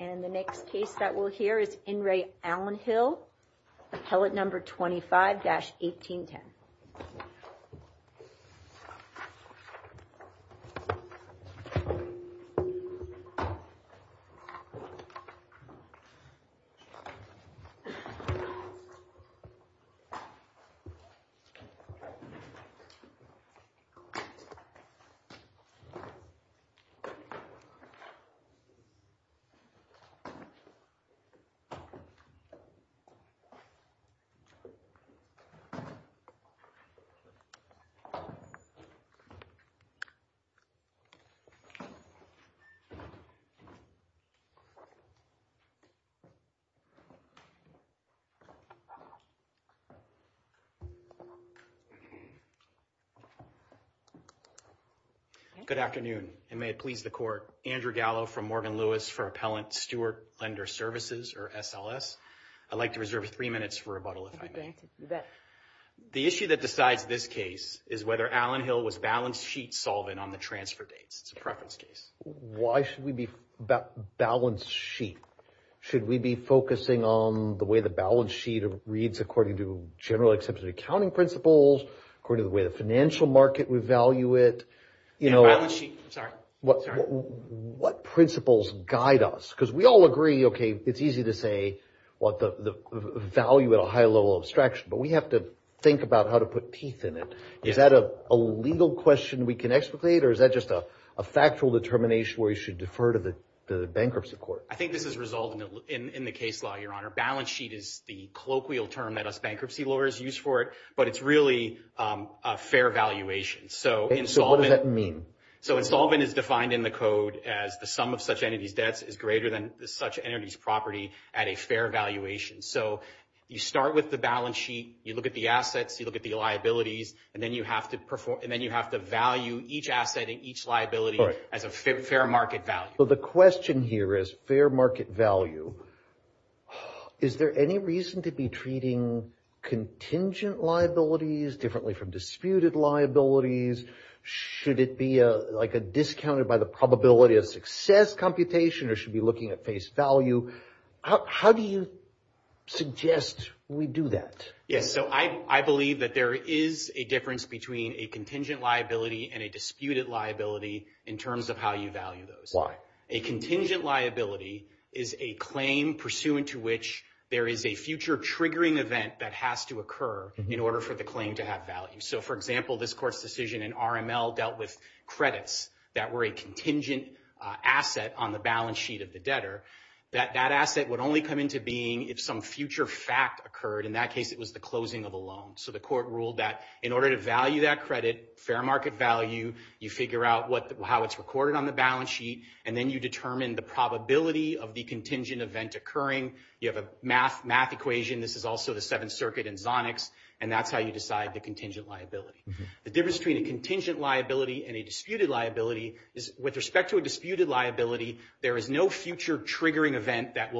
And the next case that we'll hear is In Re Allen Hill, appellate number 25-1810. Good afternoon, and may it please the court, Andrew Gallo from Morgan Lewis for Appellant Steward Lender Services, or SLS. I'd like to reserve three minutes for rebuttal, if I may. The issue that decides this case is whether Allen Hill was balance sheet solvent on the transfer dates. It's a preference case. Why should we be about balance sheet? Should we be focusing on the way the balance sheet reads according to general accepted accounting principles, according to the way the financial market would value it? What principles guide us? Because we all agree, okay, it's easy to say, what the value at a high level of abstraction, but we have to think about how to put teeth in it. Is that a legal question we can explicate, or is that just a factual determination where you should defer to the bankruptcy court? I think this is resolved in the case law, your honor. Balance sheet is the colloquial term that us bankruptcy lawyers use for it, but it's really a fair valuation. What does that mean? Insolvent is defined in the code as the sum of such entity's debts is greater than such entity's property at a fair valuation. You start with the balance sheet, you look at the assets, you look at the liabilities, and then you have to value each asset and each liability as a fair market value. The question here is fair market value. Is there any reason to be treating contingent liabilities differently from disputed liabilities? Should it be a discounted by the probability of success computation, or should we be looking at face value? How do you suggest we do that? Yes, so I believe that there is a difference between a contingent liability and a disputed liability in terms of how you value those. A contingent liability is a claim pursuant to which there is a future triggering event that has to occur in order for the claim to have value. So for example, this court's decision in RML dealt with credits that were a contingent asset on the balance sheet of the debtor. That asset would only come into being if some future fact occurred. In that case, it was the closing of a loan. So the court ruled that in order to value that credit, fair market value, you figure out how it's recorded on the balance sheet, and then you determine the probability of the contingent event occurring. You have a math equation. This is also the Seventh Circuit and Zonics, and that's how you decide the contingent liability. The difference between a contingent liability and a disputed liability is with respect to a disputed liability, there is no future triggering event that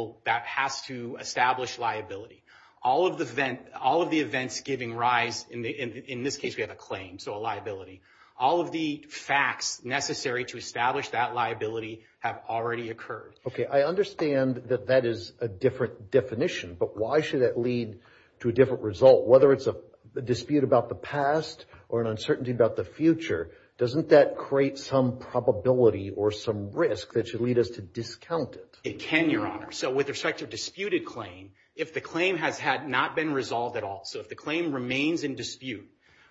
has to establish liability. All of the events giving rise, in this case, we have a claim, so a liability. All of the facts necessary to establish that liability have already occurred. Okay, I understand that that is a different definition, but why should that lead to a different result? Whether it's a dispute about the past or an uncertainty about the future, doesn't that create some probability or some risk that should lead us to discount it? It can, Your Honor. So with respect to a disputed claim, if the claim has not been resolved at all, so if the claim remains in dispute,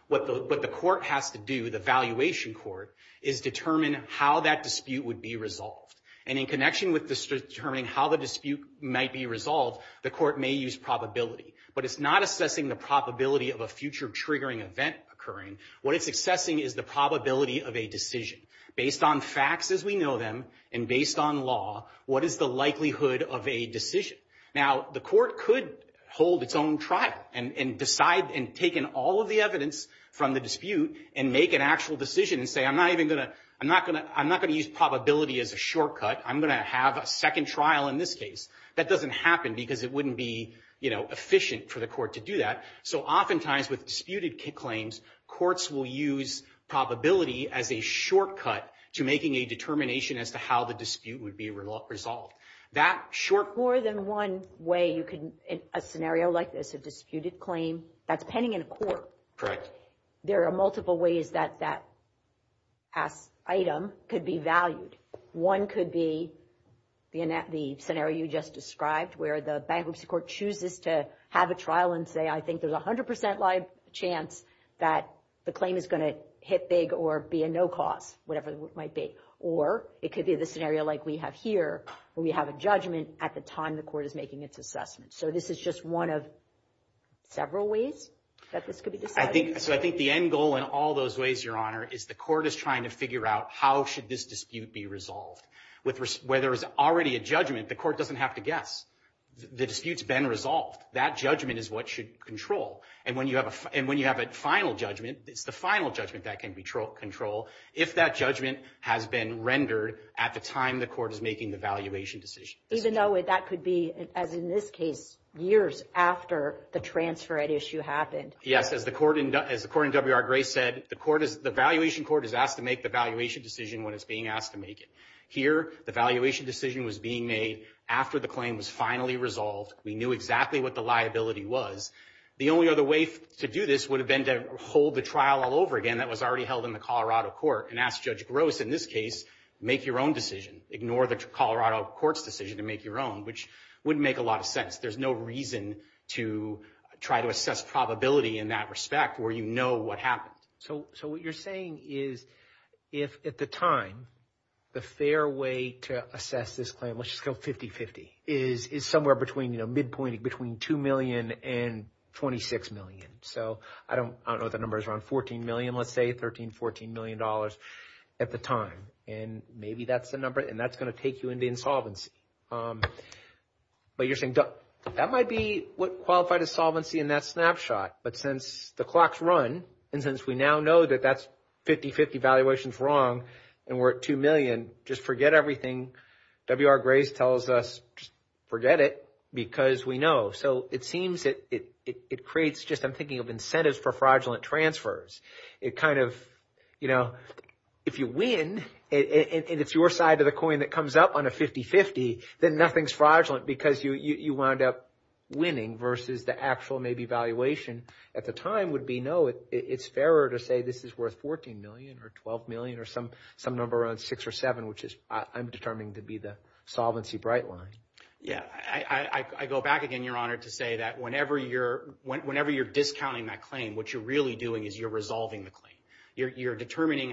what the court has to do, the valuation court, is determine how that dispute would be resolved, and in connection with determining how the dispute might be resolved, the court may use probability. But it's not assessing the probability of a future triggering event occurring. What it's assessing is the probability of a decision. Based on facts as we know them, and based on law, what is the likelihood of a decision? Now, the court could hold its own trial and decide and take in all of the evidence from the dispute and make an actual decision and say, I'm not even going to, I'm not going to use probability as a shortcut. I'm going to have a second trial in this case. That doesn't happen because it wouldn't be, you know, efficient for the court to do that. So oftentimes with disputed claims, courts will use probability as a shortcut to making a determination as to how the dispute would be resolved. That short... More than one way you can, in a scenario like this, a disputed claim, that's pending in a court. Correct. There are multiple ways that that item could be valued. One could be the scenario you just described, where the bankruptcy court chooses to have a trial and say, I think there's a 100% live chance that the claim is going to hit big or be a no cause, whatever it might be. Or it could be the scenario like we have here, where we have a judgment at the time the court is making its assessment. So this is just one of several ways that this could be decided. So I think the end goal in all those ways, Your Honor, is the court is trying to figure out how should this dispute be resolved. Whether it's already a judgment, the court doesn't have to guess. The dispute's been resolved. That judgment is what should control. And when you have a final judgment, it's the final judgment that can be controlled. If that judgment has been rendered at the time the court is making the valuation decision. Even though that could be, as in this case, years after the transfer at issue happened. Yes. As the court in WR Gray said, the valuation court is asked to make the valuation decision when it's being asked to make it. Here, the valuation decision was being made after the claim was finally resolved. We knew exactly what the liability was. The only other way to do this would have been to hold the trial all over again. That was already held in the Colorado court and ask Judge Gross, in this case, make your own decision. Ignore the Colorado court's decision to make your own, which wouldn't make a lot of sense. There's no reason to try to assess probability in that respect where you know what happened. So what you're saying is, if at the time, the fair way to assess this claim, let's just go 50-50, is somewhere between, you know, midpointing between $2 million and $26 million. So I don't know if that number is around $14 million, let's say, $13, $14 million at the time. And maybe that's the number, and that's going to take you into insolvency. But you're saying, that might be what qualified as solvency in that snapshot. But since the clock's run, and since we now know that that's 50-50, valuation's wrong, and we're at $2 million, just forget everything WR Gray tells us, just forget it, because we know. So it seems that it creates just, I'm thinking of incentives for fraudulent transfers. It kind of, you know, if you win, and it's your side of the coin that comes up on a 50-50, then nothing's fraudulent because you wound up winning versus the actual maybe valuation at the time would be, no, it's fairer to say this is worth $14 million or $12 million or some number around six or seven, which is, I'm determining to be the solvency bright line. Yeah, I go back again, Your Honor, to say that whenever you're discounting that claim, what you're really doing is you're resolving the claim. You're determining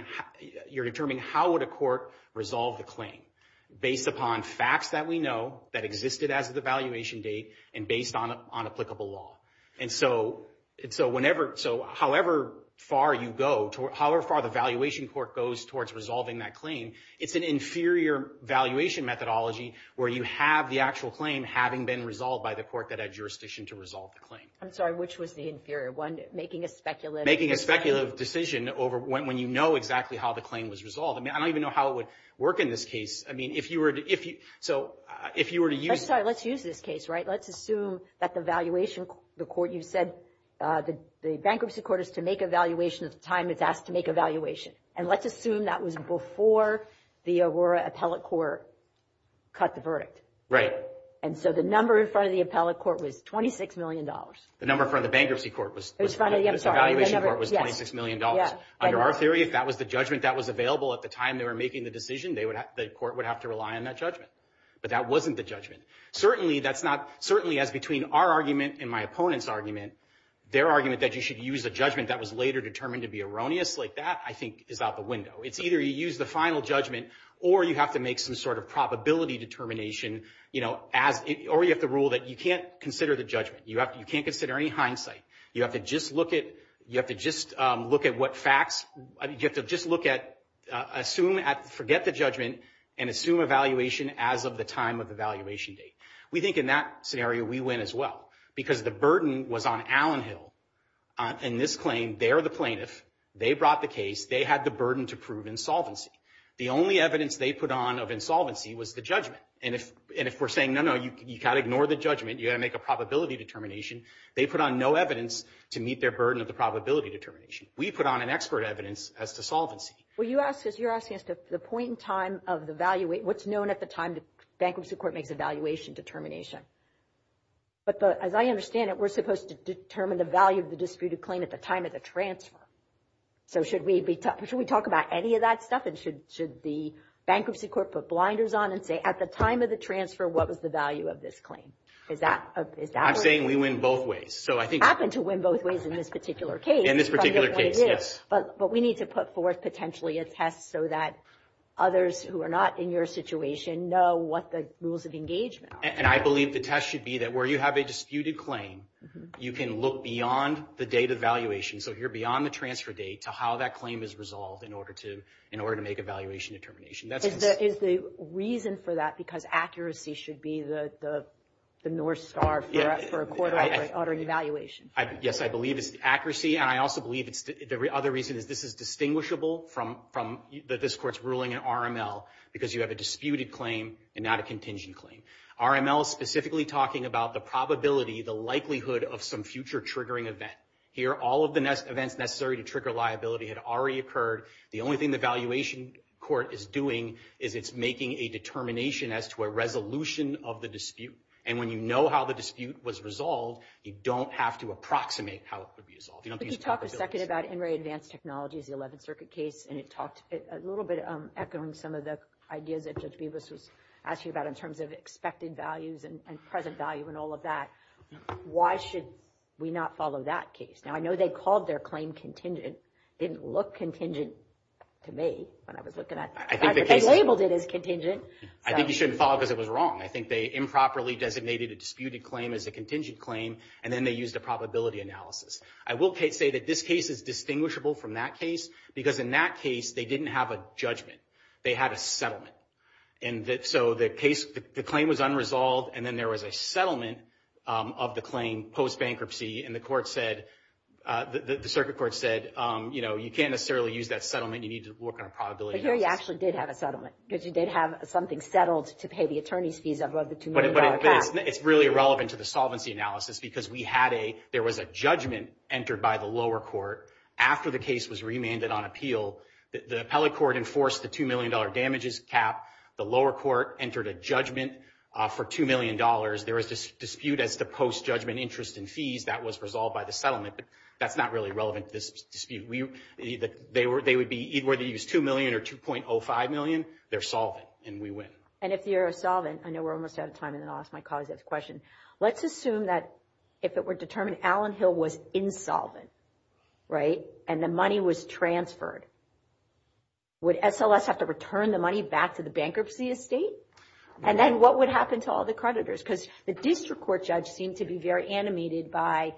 how would a court resolve the claim based upon facts that we know that existed as of the valuation date and based on applicable law. And so however far you go, however far the valuation court goes towards resolving that claim, it's an inferior valuation methodology where you have the actual claim having been resolved by the court that had jurisdiction to resolve the claim. I'm sorry, which was the inferior one, making a speculative decision? Making a speculative decision over when you know exactly how the claim was resolved. I mean, I don't even know how it would work in this case. I mean, if you were to, if you, so if you were to use... I'm sorry, let's use this case, right? Let's assume that the valuation, the court, you said the bankruptcy court is to make a valuation at the time it's asked to make a valuation. And let's assume that was before the Aurora Appellate Court cut the verdict. And so the number in front of the appellate court was $26 million. The number in front of the bankruptcy court was... It was in front of the... The valuation court was $26 million. Under our theory, if that was the judgment that was available at the time they were making the decision, the court would have to rely on that judgment. But that wasn't the judgment. Certainly, that's not, certainly as between our argument and my opponent's argument, their argument that you should use a judgment that was later determined to be erroneous like that, I think, is out the window. It's either you use the final judgment or you have to make some sort of probability determination, you know, as, or you have to rule that you can't consider the judgment. You have to, you can't consider any hindsight. You have to just look at, you have to just look at what facts, you have to just look at, assume at, forget the judgment and assume a valuation as of the time of the valuation date. We think in that scenario, we win as well, because the burden was on Allen Hill. In this claim, they're the plaintiff. They brought the case. They had the burden to prove insolvency. The only evidence they put on of insolvency was the judgment. And if, and if we're saying, no, no, you got to ignore the judgment, you got to make a probability determination, they put on no evidence to meet their burden of the probability determination. We put on an expert evidence as to solvency. Well, you asked us, you're asking us the point in time of the value, what's known at the time the bankruptcy court makes a valuation determination. But as I understand it, we're supposed to determine the value of the disputed claim at the time of the transfer. So should we be, should we talk about any of that stuff and should, should the bankruptcy court put blinders on and say at the time of the transfer, what was the value of this claim? Is that, is that- I'm saying we win both ways. So I think- Happen to win both ways in this particular case. In this particular case, yes. But we need to put forth potentially a test so that others who are not in your situation know what the rules of engagement are. And I believe the test should be that where you have a disputed claim, you can look beyond the date of valuation. So you're beyond the transfer date to how that claim is resolved in order to, in order to make a valuation determination. That's- Is the, is the reason for that because accuracy should be the, the, the North Star for a, for a court-ordering evaluation? Yes. I believe it's the accuracy. And I also believe it's, the other reason is this is distinguishable from, from the, this court's ruling in RML because you have a disputed claim and not a contingent claim. RML is specifically talking about the probability, the likelihood of some future triggering event. Here all of the events necessary to trigger liability had already occurred. The only thing the valuation court is doing is it's making a determination as to a resolution of the dispute. And when you know how the dispute was resolved, you don't have to approximate how it could be resolved. You don't use probabilities. Could you talk a second about NRA advanced technologies, the 11th Circuit case, and it talked a little bit, echoing some of the ideas that Judge Bevis was asking about in terms of expected values and present value and all of that, why should we not follow that case? Now, I know they called their claim contingent. It didn't look contingent to me when I was looking at it. I think the case- They labeled it as contingent. I think you shouldn't follow it because it was wrong. I think they improperly designated a disputed claim as a contingent claim, and then they used a probability analysis. I will say that this case is distinguishable from that case because in that case they didn't have a judgment. They had a settlement. And so the case, the claim was unresolved, and then there was a settlement of the claim post-bankruptcy, and the court said, the Circuit Court said, you know, you can't necessarily use that settlement. You need to work on a probability analysis. But here you actually did have a settlement because you did have something settled to pay the attorney's fees of the $2 million cash. But it's really irrelevant to the solvency analysis because we had a, there was a judgment entered by the lower court after the case was remanded on appeal. The appellate court enforced the $2 million damages cap. The lower court entered a judgment for $2 million. There was a dispute as to post-judgment interest and fees. That was resolved by the settlement, but that's not really relevant to this dispute. They would be, either they used $2 million or $2.05 million, they're solvent, and we win. And if you're a solvent, I know we're almost out of time, and then I'll ask my colleagues a question. Let's assume that if it were determined Allen Hill was insolvent, right, and the money was transferred, would SLS have to return the money back to the bankruptcy estate? And then what would happen to all the creditors? Because the district court judge seemed to be very animated by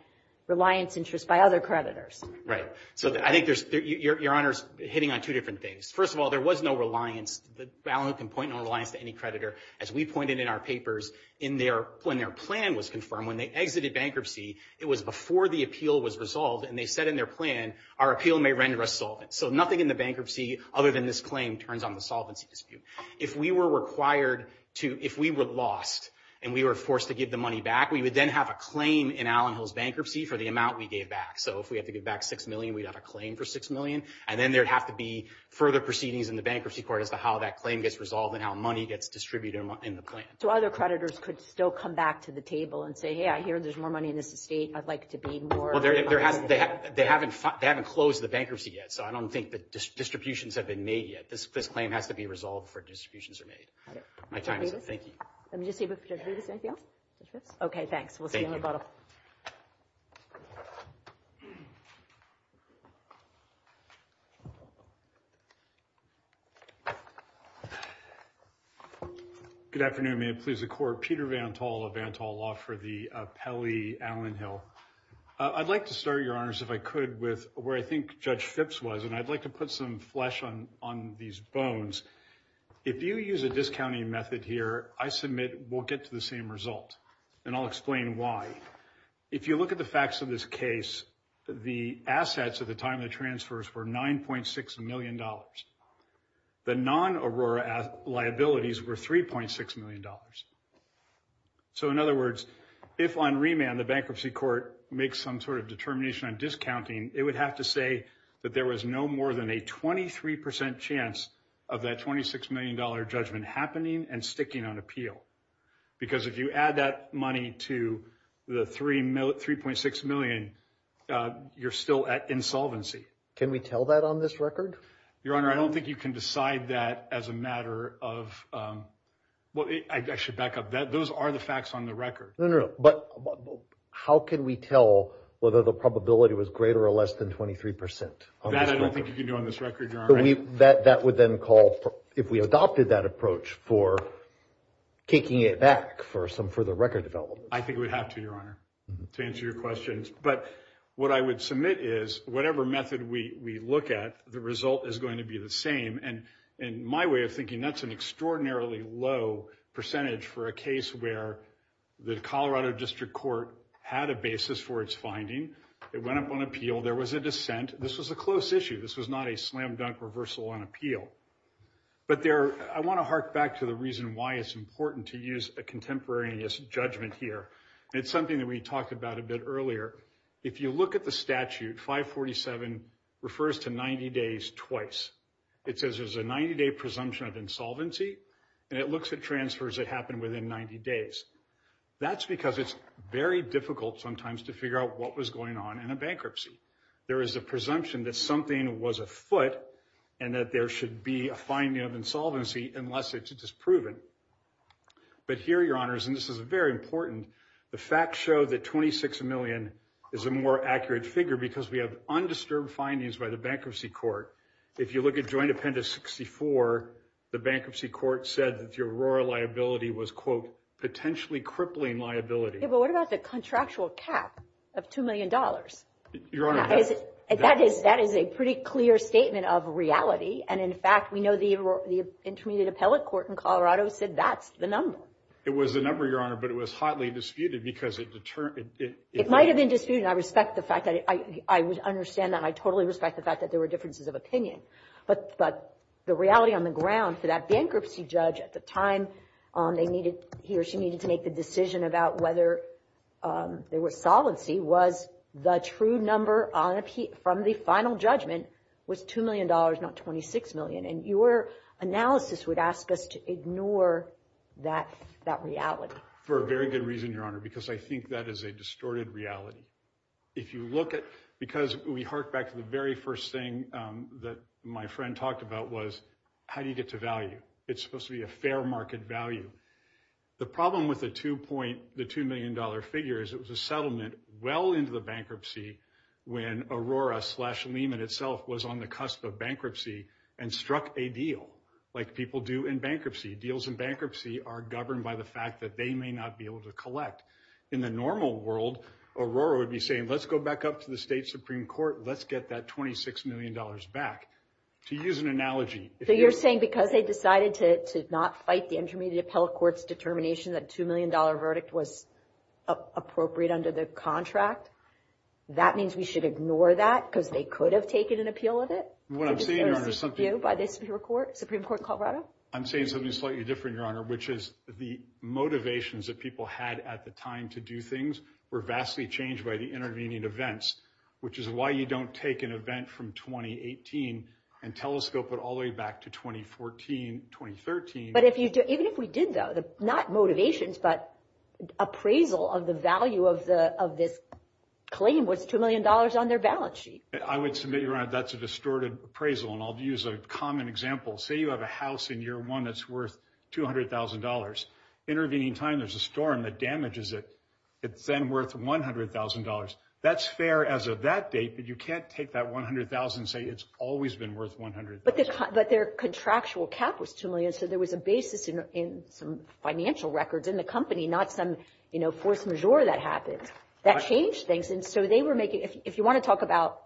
reliance interest by other creditors. Right. So I think there's, Your Honor's hitting on two different things. First of all, there was no reliance, Allen Hill can point no reliance to any creditor. As we pointed in our papers, when their plan was confirmed, when they exited bankruptcy, it was before the appeal was resolved, and they said in their plan, our appeal may render us solvent. So nothing in the bankruptcy, other than this claim, turns on the solvency dispute. If we were required to, if we were lost, and we were forced to give the money back, we would then have a claim in Allen Hill's bankruptcy for the amount we gave back. So if we had to give back $6 million, we'd have a claim for $6 million. And then there'd have to be further proceedings in the bankruptcy court as to how that claim gets resolved and how money gets distributed in the plan. So other creditors could still come back to the table and say, hey, I hear there's more money in this estate. I'd like to be more- Well, they haven't closed the bankruptcy yet, so I don't think the distributions have been made yet. This claim has to be resolved before distributions are made. My time is up. Thank you. Let me just see if there's anything else. Okay, thanks. Thank you. We'll see you in a little while. Good afternoon. May it please the Court. I'm Peter Vantol of Vantol Law for the Pele-Allen Hill. I'd like to start, Your Honors, if I could, with where I think Judge Phipps was, and I'd like to put some flesh on these bones. If you use a discounting method here, I submit we'll get to the same result, and I'll explain why. If you look at the facts of this case, the assets at the time of the transfers were $9.6 million. The non-Aurora liabilities were $3.6 million. So in other words, if on remand the bankruptcy court makes some sort of determination on discounting, it would have to say that there was no more than a 23% chance of that $26 million judgment happening and sticking on appeal. Because if you add that money to the $3.6 million, you're still at insolvency. Can we tell that on this record? Your Honor, I don't think you can decide that as a matter of... Well, I should back up. Those are the facts on the record. No, no, no. But how can we tell whether the probability was greater or less than 23% on this record? That I don't think you can do on this record, Your Honor. That would then call, if we adopted that approach, for kicking it back for some further record development. I think we'd have to, Your Honor, to answer your questions. What I would submit is, whatever method we look at, the result is going to be the same. My way of thinking, that's an extraordinarily low percentage for a case where the Colorado District Court had a basis for its finding. It went up on appeal. There was a dissent. This was a close issue. This was not a slam dunk reversal on appeal. I want to hark back to the reason why it's important to use a contemporaneous judgment here. It's something that we talked about a bit earlier. If you look at the statute, 547 refers to 90 days twice. It says there's a 90 day presumption of insolvency, and it looks at transfers that happen within 90 days. That's because it's very difficult sometimes to figure out what was going on in a bankruptcy. There is a presumption that something was afoot, and that there should be a finding of insolvency unless it is proven. But here, Your Honors, and this is very important, the facts show that 26 million is a more accurate figure because we have undisturbed findings by the bankruptcy court. If you look at joint appendix 64, the bankruptcy court said that the Aurora liability was, quote, potentially crippling liability. Yeah, but what about the contractual cap of $2 million? Your Honor- That is a pretty clear statement of reality, and in fact, we know the Intermediate Appellate Court in Colorado said that's the number. It was the number, Your Honor, but it was hotly disputed because it determined- It might have been disputed, and I respect the fact that, I understand that, and I totally respect the fact that there were differences of opinion. But the reality on the ground for that bankruptcy judge at the time they needed, he or she needed to make the decision about whether there was solvency was the true number from the final judgment was $2 million, not 26 million. And your analysis would ask us to ignore that reality. For a very good reason, Your Honor, because I think that is a distorted reality. If you look at... Because we hark back to the very first thing that my friend talked about was, how do you get to value? It's supposed to be a fair market value. The problem with the $2 million figure is it was a settlement well into the bankruptcy when Aurora slash Lehman itself was on the cusp of bankruptcy and struck a deal, like people do in bankruptcy. Deals in bankruptcy are governed by the fact that they may not be able to collect. In the normal world, Aurora would be saying, let's go back up to the State Supreme Court. Let's get that $26 million back. To use an analogy- So you're saying because they decided to not fight the Intermediate Appellate Court's determination that a $2 million verdict was appropriate under the contract, that means we should ignore that because they could have taken an appeal of it? What I'm saying, Your Honor- By the Supreme Court of Colorado? I'm saying something slightly different, Your Honor, which is the motivations that people had at the time to do things were vastly changed by the intervening events, which is why you don't take an event from 2018 and telescope it all the way back to 2014, 2013. But even if we did, though, not motivations, but appraisal of the value of this claim was $2 million on their balance sheet. I would submit, Your Honor, that's a distorted appraisal, and I'll use a common example. Say you have a house in year one that's worth $200,000. Intervening time, there's a storm that damages it. It's then worth $100,000. That's fair as of that date, but you can't take that $100,000 and say it's always been worth $100,000. But their contractual cap was $2 million, so there was a basis in some financial records in the company, not some force majeure that happens. That changed things, and so they were making... If you want to talk about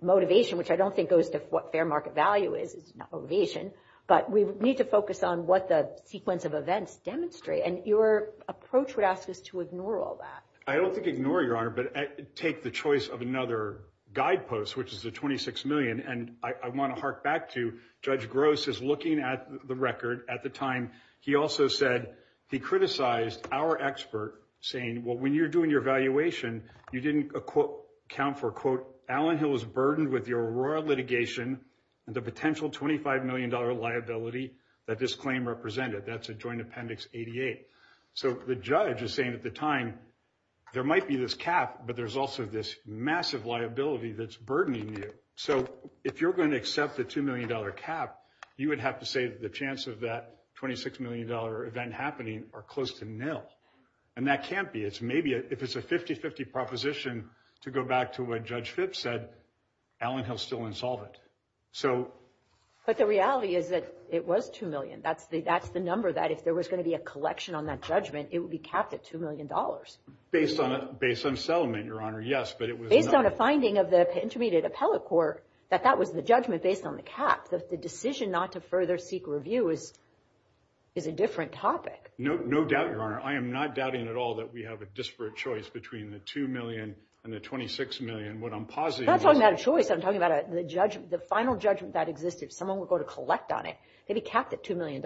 motivation, which I don't think goes to what fair market value is, it's not motivation, but we need to focus on what the sequence of events demonstrate, and your approach would ask us to ignore all that. I don't think ignore, Your Honor, but take the choice of another guidepost, which is a $26 million, and I want to hark back to... Judge Gross is looking at the record at the time. He also said he criticized our expert saying, well, when you're doing your valuation, you didn't account for, quote, Allen Hill is burdened with the Aurora litigation and the potential $25 million liability that this claim represented. That's a joint appendix 88. The judge is saying at the time, there might be this cap, but there's also this massive liability that's burdening you, so if you're going to accept the $2 million cap, you would have to say that the chance of that $26 million event happening are close to nil, and that can't be. It's maybe... If it's a 50-50 proposition, to go back to what Judge Phipps said, Allen Hill's still insolvent, so... But the reality is that it was $2 million. That's the number that if there was going to be a collection on that judgment, it would be capped at $2 million. Based on settlement, Your Honor, yes, but it was not... Based on a finding of the Intermediate Appellate Court, that that was the judgment based on the cap. The decision not to further seek review is a different topic. No doubt, Your Honor. I am not doubting at all that we have a disparate choice between the $2 million and the $26 million. What I'm positive is... I'm not talking about a choice. I'm talking about the final judgment that existed. Someone would go to collect on it. It'd be capped at $2 million.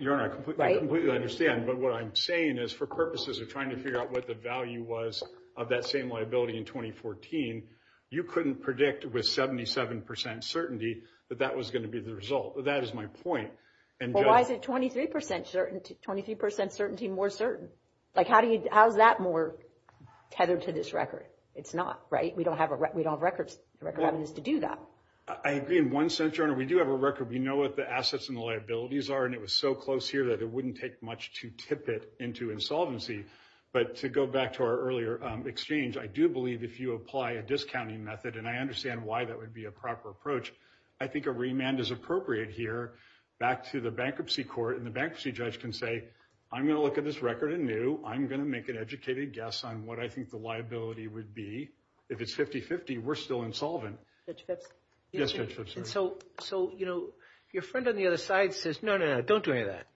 Your Honor, I completely understand, but what I'm saying is for purposes of trying to figure out what the value was of that same liability in 2014, you couldn't predict with 77% certainty that that was going to be the result. That is my point. Well, why is it 23% certainty more certain? How is that more tethered to this record? It's not, right? We don't have records to do that. I agree in one sense, Your Honor. We do have a record. We know what the assets and the liabilities are, and it was so close here that it wouldn't take much to tip it into insolvency. To go back to our earlier exchange, I do believe if you apply a discounting method, and I understand why that would be a proper approach, I think a remand is appropriate here. Back to the bankruptcy court, and the bankruptcy judge can say, I'm going to look at this record anew. I'm going to make an educated guess on what I think the liability would be. If it's 50-50, we're still insolvent. Judge Phipps? Yes, Judge Phipps, Your Honor. Your friend on the other side says, no, no, no, don't do any of that.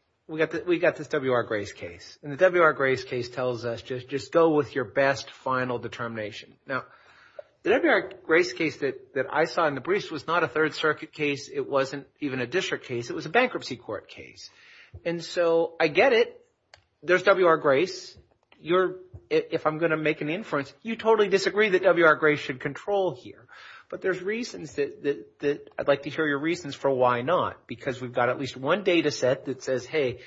We got this W.R. Gray's case. The W.R. Gray's case tells us just go with your best final determination. Now, the W.R. Gray's case that I saw in the briefs was not a Third Circuit case. It wasn't even a district case. It was a bankruptcy court case. I get it. There's W.R. Gray's. If I'm going to make an inference, you totally disagree that W.R. Gray's should control here, but there's reasons that I'd like to hear your reasons for why not, because we've got at least one data set that says, hey,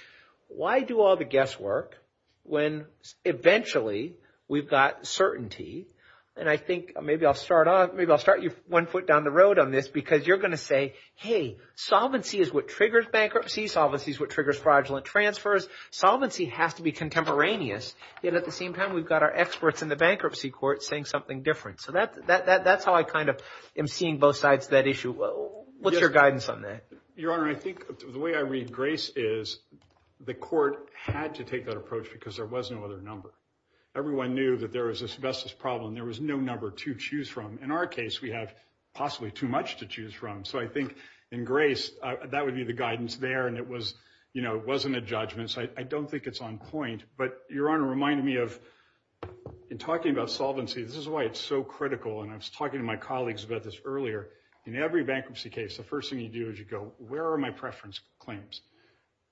why do all the guesswork when eventually we've got certainty? I think maybe I'll start you one foot down the road on this, because you're going to say, hey, solvency is what triggers bankruptcy. Solvency is what triggers fraudulent transfers. Solvency has to be contemporaneous, yet at the same time, we've got our experts in the bankruptcy court saying something different. That's how I kind of am seeing both sides of that issue. What's your guidance on that? Your Honor, I think the way I read Gray's is the court had to take that approach because there was no other number. Everyone knew that there was a Sylvester's problem. There was no number to choose from. In our case, we have possibly too much to choose from, so I think in Gray's, that would be the guidance there, and it wasn't a judgment, so I don't think it's on point, but Your Honor reminded me of, in talking about solvency, this is why it's so critical, and I was talking to my colleagues about this earlier. In every bankruptcy case, the first thing you do is you go, where are my preference claims?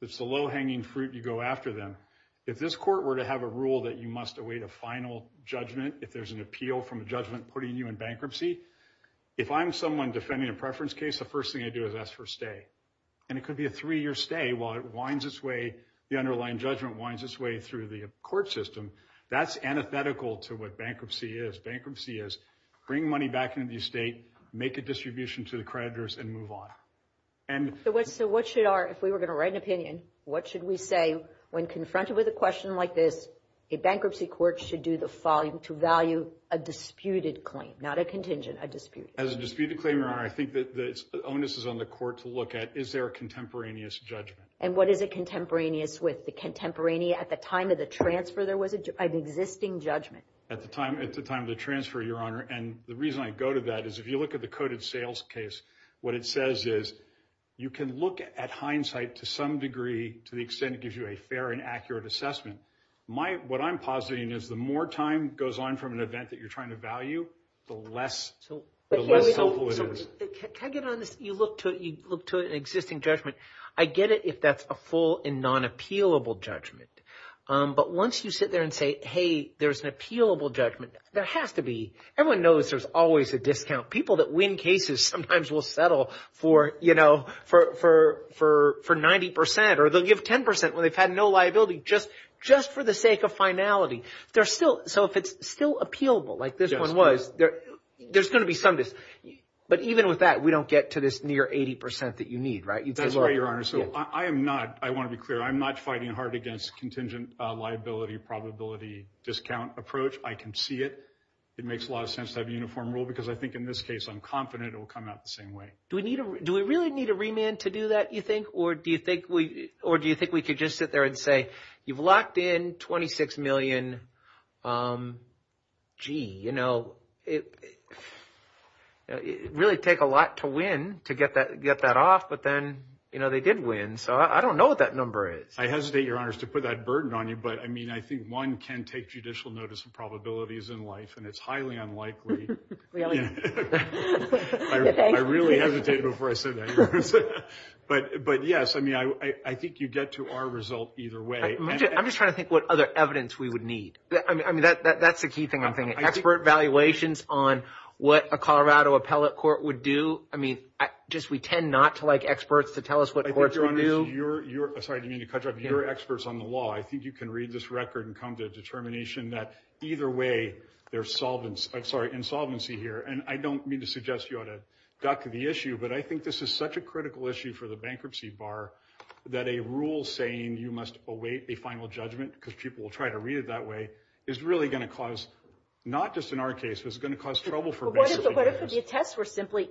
It's the low-hanging fruit. You go after them. If this court were to have a rule that you must await a final judgment if there's an appeal from a judgment putting you in bankruptcy, if I'm someone defending a preference case, the first thing I do is ask for a stay, and it could be a three-year stay while it winds its way, the underlying judgment winds its way through the court system. That's antithetical to what bankruptcy is. Bankruptcy is bring money back into the estate, make a distribution to the creditors, and move on. So, what should our, if we were going to write an opinion, what should we say when confronted with a question like this? A bankruptcy court should do the following to value a disputed claim, not a contingent, a disputed claim. As a disputed claim, Your Honor, I think that the onus is on the court to look at, is there a contemporaneous judgment? And what is it contemporaneous with? The contemporaneous, at the time of the transfer, there was an existing judgment. At the time of the transfer, Your Honor, and the reason I go to that is if you look at the coded sales case, what it says is you can look at hindsight to some degree to the extent it gives you a fair and accurate assessment. What I'm positing is the more time goes on from an event that you're trying to value, the less hopeful it is. So, can I get on this, you look to an existing judgment, I get it if that's a full and non-appealable judgment. But once you sit there and say, hey, there's an appealable judgment, there has to be, everyone knows there's always a discount. People that win cases sometimes will settle for 90% or they'll give 10% when they've had no liability, just for the sake of finality. So if it's still appealable, like this one was, there's going to be some dis... But even with that, we don't get to this near 80% that you need, right? That's right, Your Honor. So I am not, I want to be clear, I'm not fighting hard against contingent liability probability discount approach. I can see it. It makes a lot of sense to have a uniform rule because I think in this case, I'm confident it will come out the same way. Do we really need a remand to do that, you think? Or do you think we could just sit there and say, you've locked in 26 million, gee, you did win. So I don't know what that number is. I hesitate, Your Honor, to put that burden on you, but I mean, I think one can take judicial notice of probabilities in life and it's highly unlikely. Really? I really hesitated before I said that, but yes, I mean, I think you get to our result either way. I'm just trying to think what other evidence we would need. I mean, that's the key thing I'm thinking, expert valuations on what a Colorado appellate court would do. I mean, just we tend not to like experts to tell us what courts would do. I think, Your Honor, you're, I'm sorry, do you mean to cut you off, you're experts on the law. I think you can read this record and come to a determination that either way there's solvency, I'm sorry, insolvency here. And I don't mean to suggest you ought to duck the issue, but I think this is such a critical issue for the bankruptcy bar that a rule saying you must await a final judgment because people will try to read it that way is really going to cause, not just in our case, but it's going to cause trouble for banks. So what if the attests were simply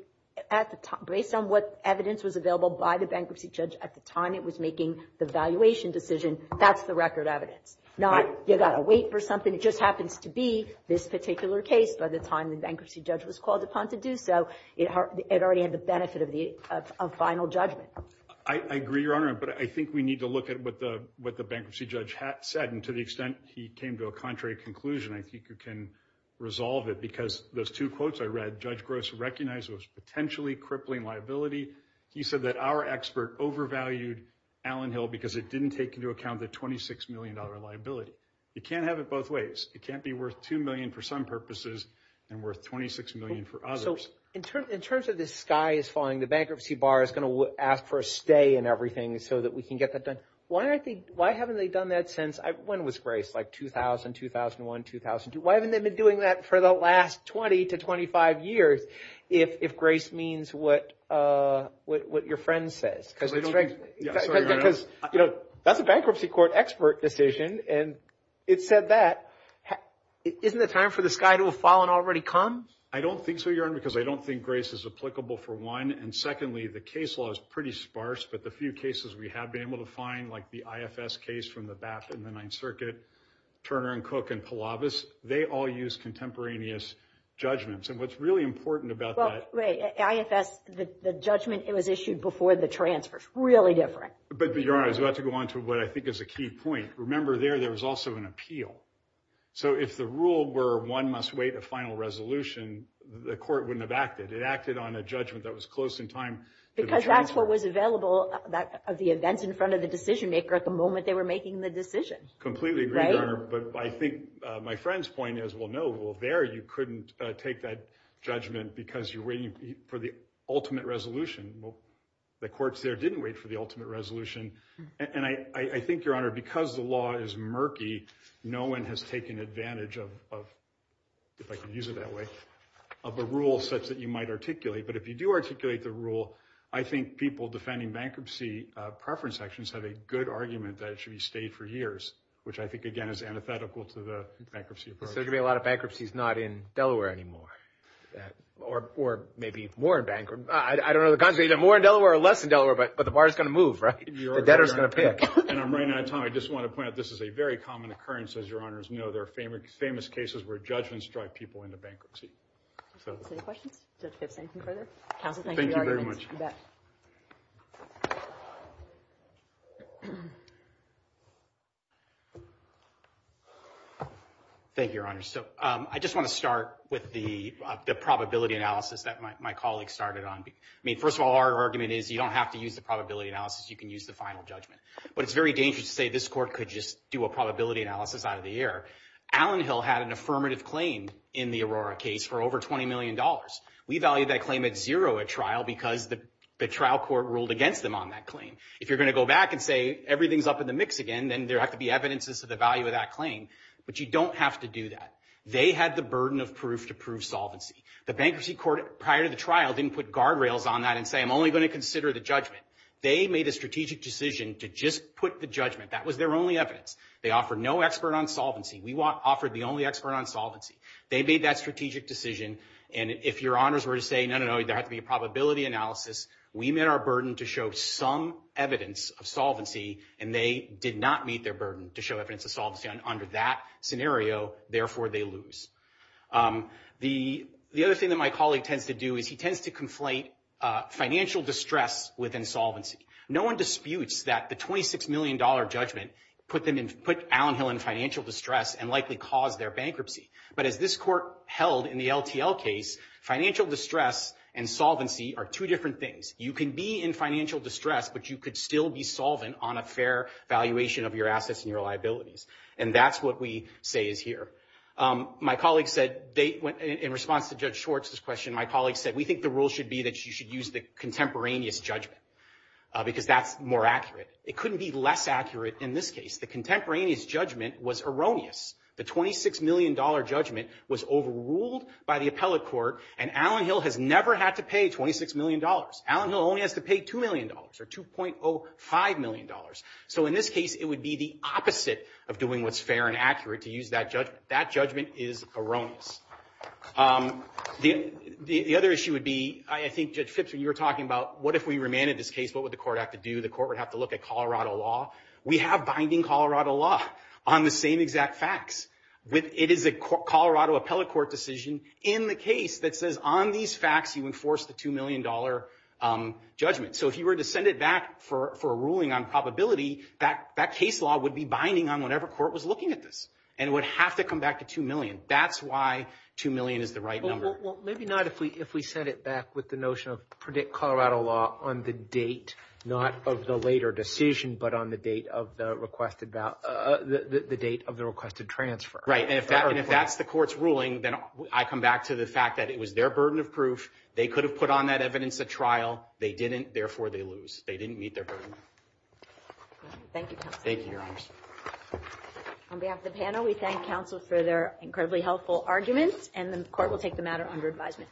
at the time, based on what evidence was available by the bankruptcy judge at the time it was making the valuation decision, that's the record evidence. Not, you got to wait for something, it just happens to be this particular case by the time the bankruptcy judge was called upon to do so, it already had the benefit of final judgment. I agree, Your Honor, but I think we need to look at what the bankruptcy judge had said and to the extent he came to a contrary conclusion, I think you can resolve it because those two quotes I read, Judge Gross recognized it was potentially crippling liability. He said that our expert overvalued Allen Hill because it didn't take into account the $26 million liability. You can't have it both ways. It can't be worth $2 million for some purposes and worth $26 million for others. In terms of this sky is falling, the bankruptcy bar is going to ask for a stay and everything so that we can get that done. Why haven't they done that since, when was Grace, like 2000, 2001, 2002, why haven't they been doing that for the last 20 to 25 years if Grace means what your friend says? Because, you know, that's a bankruptcy court expert decision and it said that, isn't it time for the sky to have fallen already come? I don't think so, Your Honor, because I don't think Grace is applicable for one and secondly, the case law is pretty sparse but the few cases we have been able to find like the IFS case from the BAP and the Ninth Circuit, Turner and Cook and Palavis, they all use contemporaneous judgments and what's really important about that. Well, right, IFS, the judgment, it was issued before the transfers, really different. But, Your Honor, I was about to go on to what I think is a key point. Remember there, there was also an appeal. So if the rule were one must wait a final resolution, the court wouldn't have acted. It acted on a judgment that was close in time. Because that's what was available of the events in front of the decision maker at the moment that they were making the decision. Completely agree, Your Honor. But I think my friend's point is, well, no, well, there you couldn't take that judgment because you're waiting for the ultimate resolution. The courts there didn't wait for the ultimate resolution and I think, Your Honor, because the law is murky, no one has taken advantage of, if I can use it that way, of a rule such that you might articulate. But if you do articulate the rule, I think people defending bankruptcy preference actions have a good argument that it should be stayed for years, which I think, again, is antithetical to the bankruptcy approach. So there's going to be a lot of bankruptcies not in Delaware anymore. Or maybe more bankrupt. I don't know the consequences, more in Delaware or less in Delaware, but the bar's going to move, right? The debtor's going to pay it. And I'm running out of time. I just want to point out this is a very common occurrence, as Your Honors know. There are famous cases where judgments drive people into bankruptcy. So, any questions? Judge Pipps, anything further? Counsel, thank you for your arguments. Thank you very much. You bet. Thank you, Your Honors. So, I just want to start with the probability analysis that my colleague started on. I mean, first of all, our argument is you don't have to use the probability analysis. You can use the final judgment. But it's very dangerous to say this court could just do a probability analysis out of the air. Allen Hill had an affirmative claim in the Aurora case for over $20 million. We value that claim at zero at trial because the trial court ruled against them on that claim. If you're going to go back and say everything's up in the mix again, then there have to be evidences to the value of that claim. But you don't have to do that. They had the burden of proof to prove solvency. The bankruptcy court, prior to the trial, didn't put guardrails on that and say, I'm only going to consider the judgment. They made a strategic decision to just put the judgment. That was their only evidence. They offered no expert on solvency. We offered the only expert on solvency. They made that strategic decision. And if Your Honors were to say, no, no, no, there has to be a probability analysis. We met our burden to show some evidence of solvency, and they did not meet their burden to show evidence of solvency under that scenario. Therefore they lose. The other thing that my colleague tends to do is he tends to conflate financial distress with insolvency. No one disputes that the $26 million judgment put Allen Hill in financial distress and likely caused their bankruptcy. But as this court held in the LTL case, financial distress and solvency are two different things. You can be in financial distress, but you could still be solvent on a fair valuation of your assets and your liabilities. And that's what we say is here. My colleague said, in response to Judge Schwartz's question, my colleague said, we think the rule should be that you should use the contemporaneous judgment because that's more accurate. It couldn't be less accurate in this case. The contemporaneous judgment was erroneous. The $26 million judgment was overruled by the appellate court, and Allen Hill has never had to pay $26 million. Allen Hill only has to pay $2 million or $2.05 million. So in this case, it would be the opposite of doing what's fair and accurate to use that That judgment is erroneous. The other issue would be, I think Judge Phipps, when you were talking about what if we remanded this case, what would the court have to do? The court would have to look at Colorado law. We have binding Colorado law on the same exact facts. It is a Colorado appellate court decision in the case that says on these facts you enforce the $2 million judgment. So if you were to send it back for a ruling on probability, that case law would be binding on whatever court was looking at this, and it would have to come back to $2 million. That's why $2 million is the right number. Maybe not if we send it back with the notion of predict Colorado law on the date, not of the later decision, but on the date of the requested transfer. Right. And if that's the court's ruling, then I come back to the fact that it was their burden of proof. They could have put on that evidence at trial. They didn't. Therefore, they lose. They didn't meet their burden. Thank you, counsel. Thank you, Your Honors. On behalf of the panel, we thank counsel for their incredibly helpful arguments, and the court will take the matter under advisement.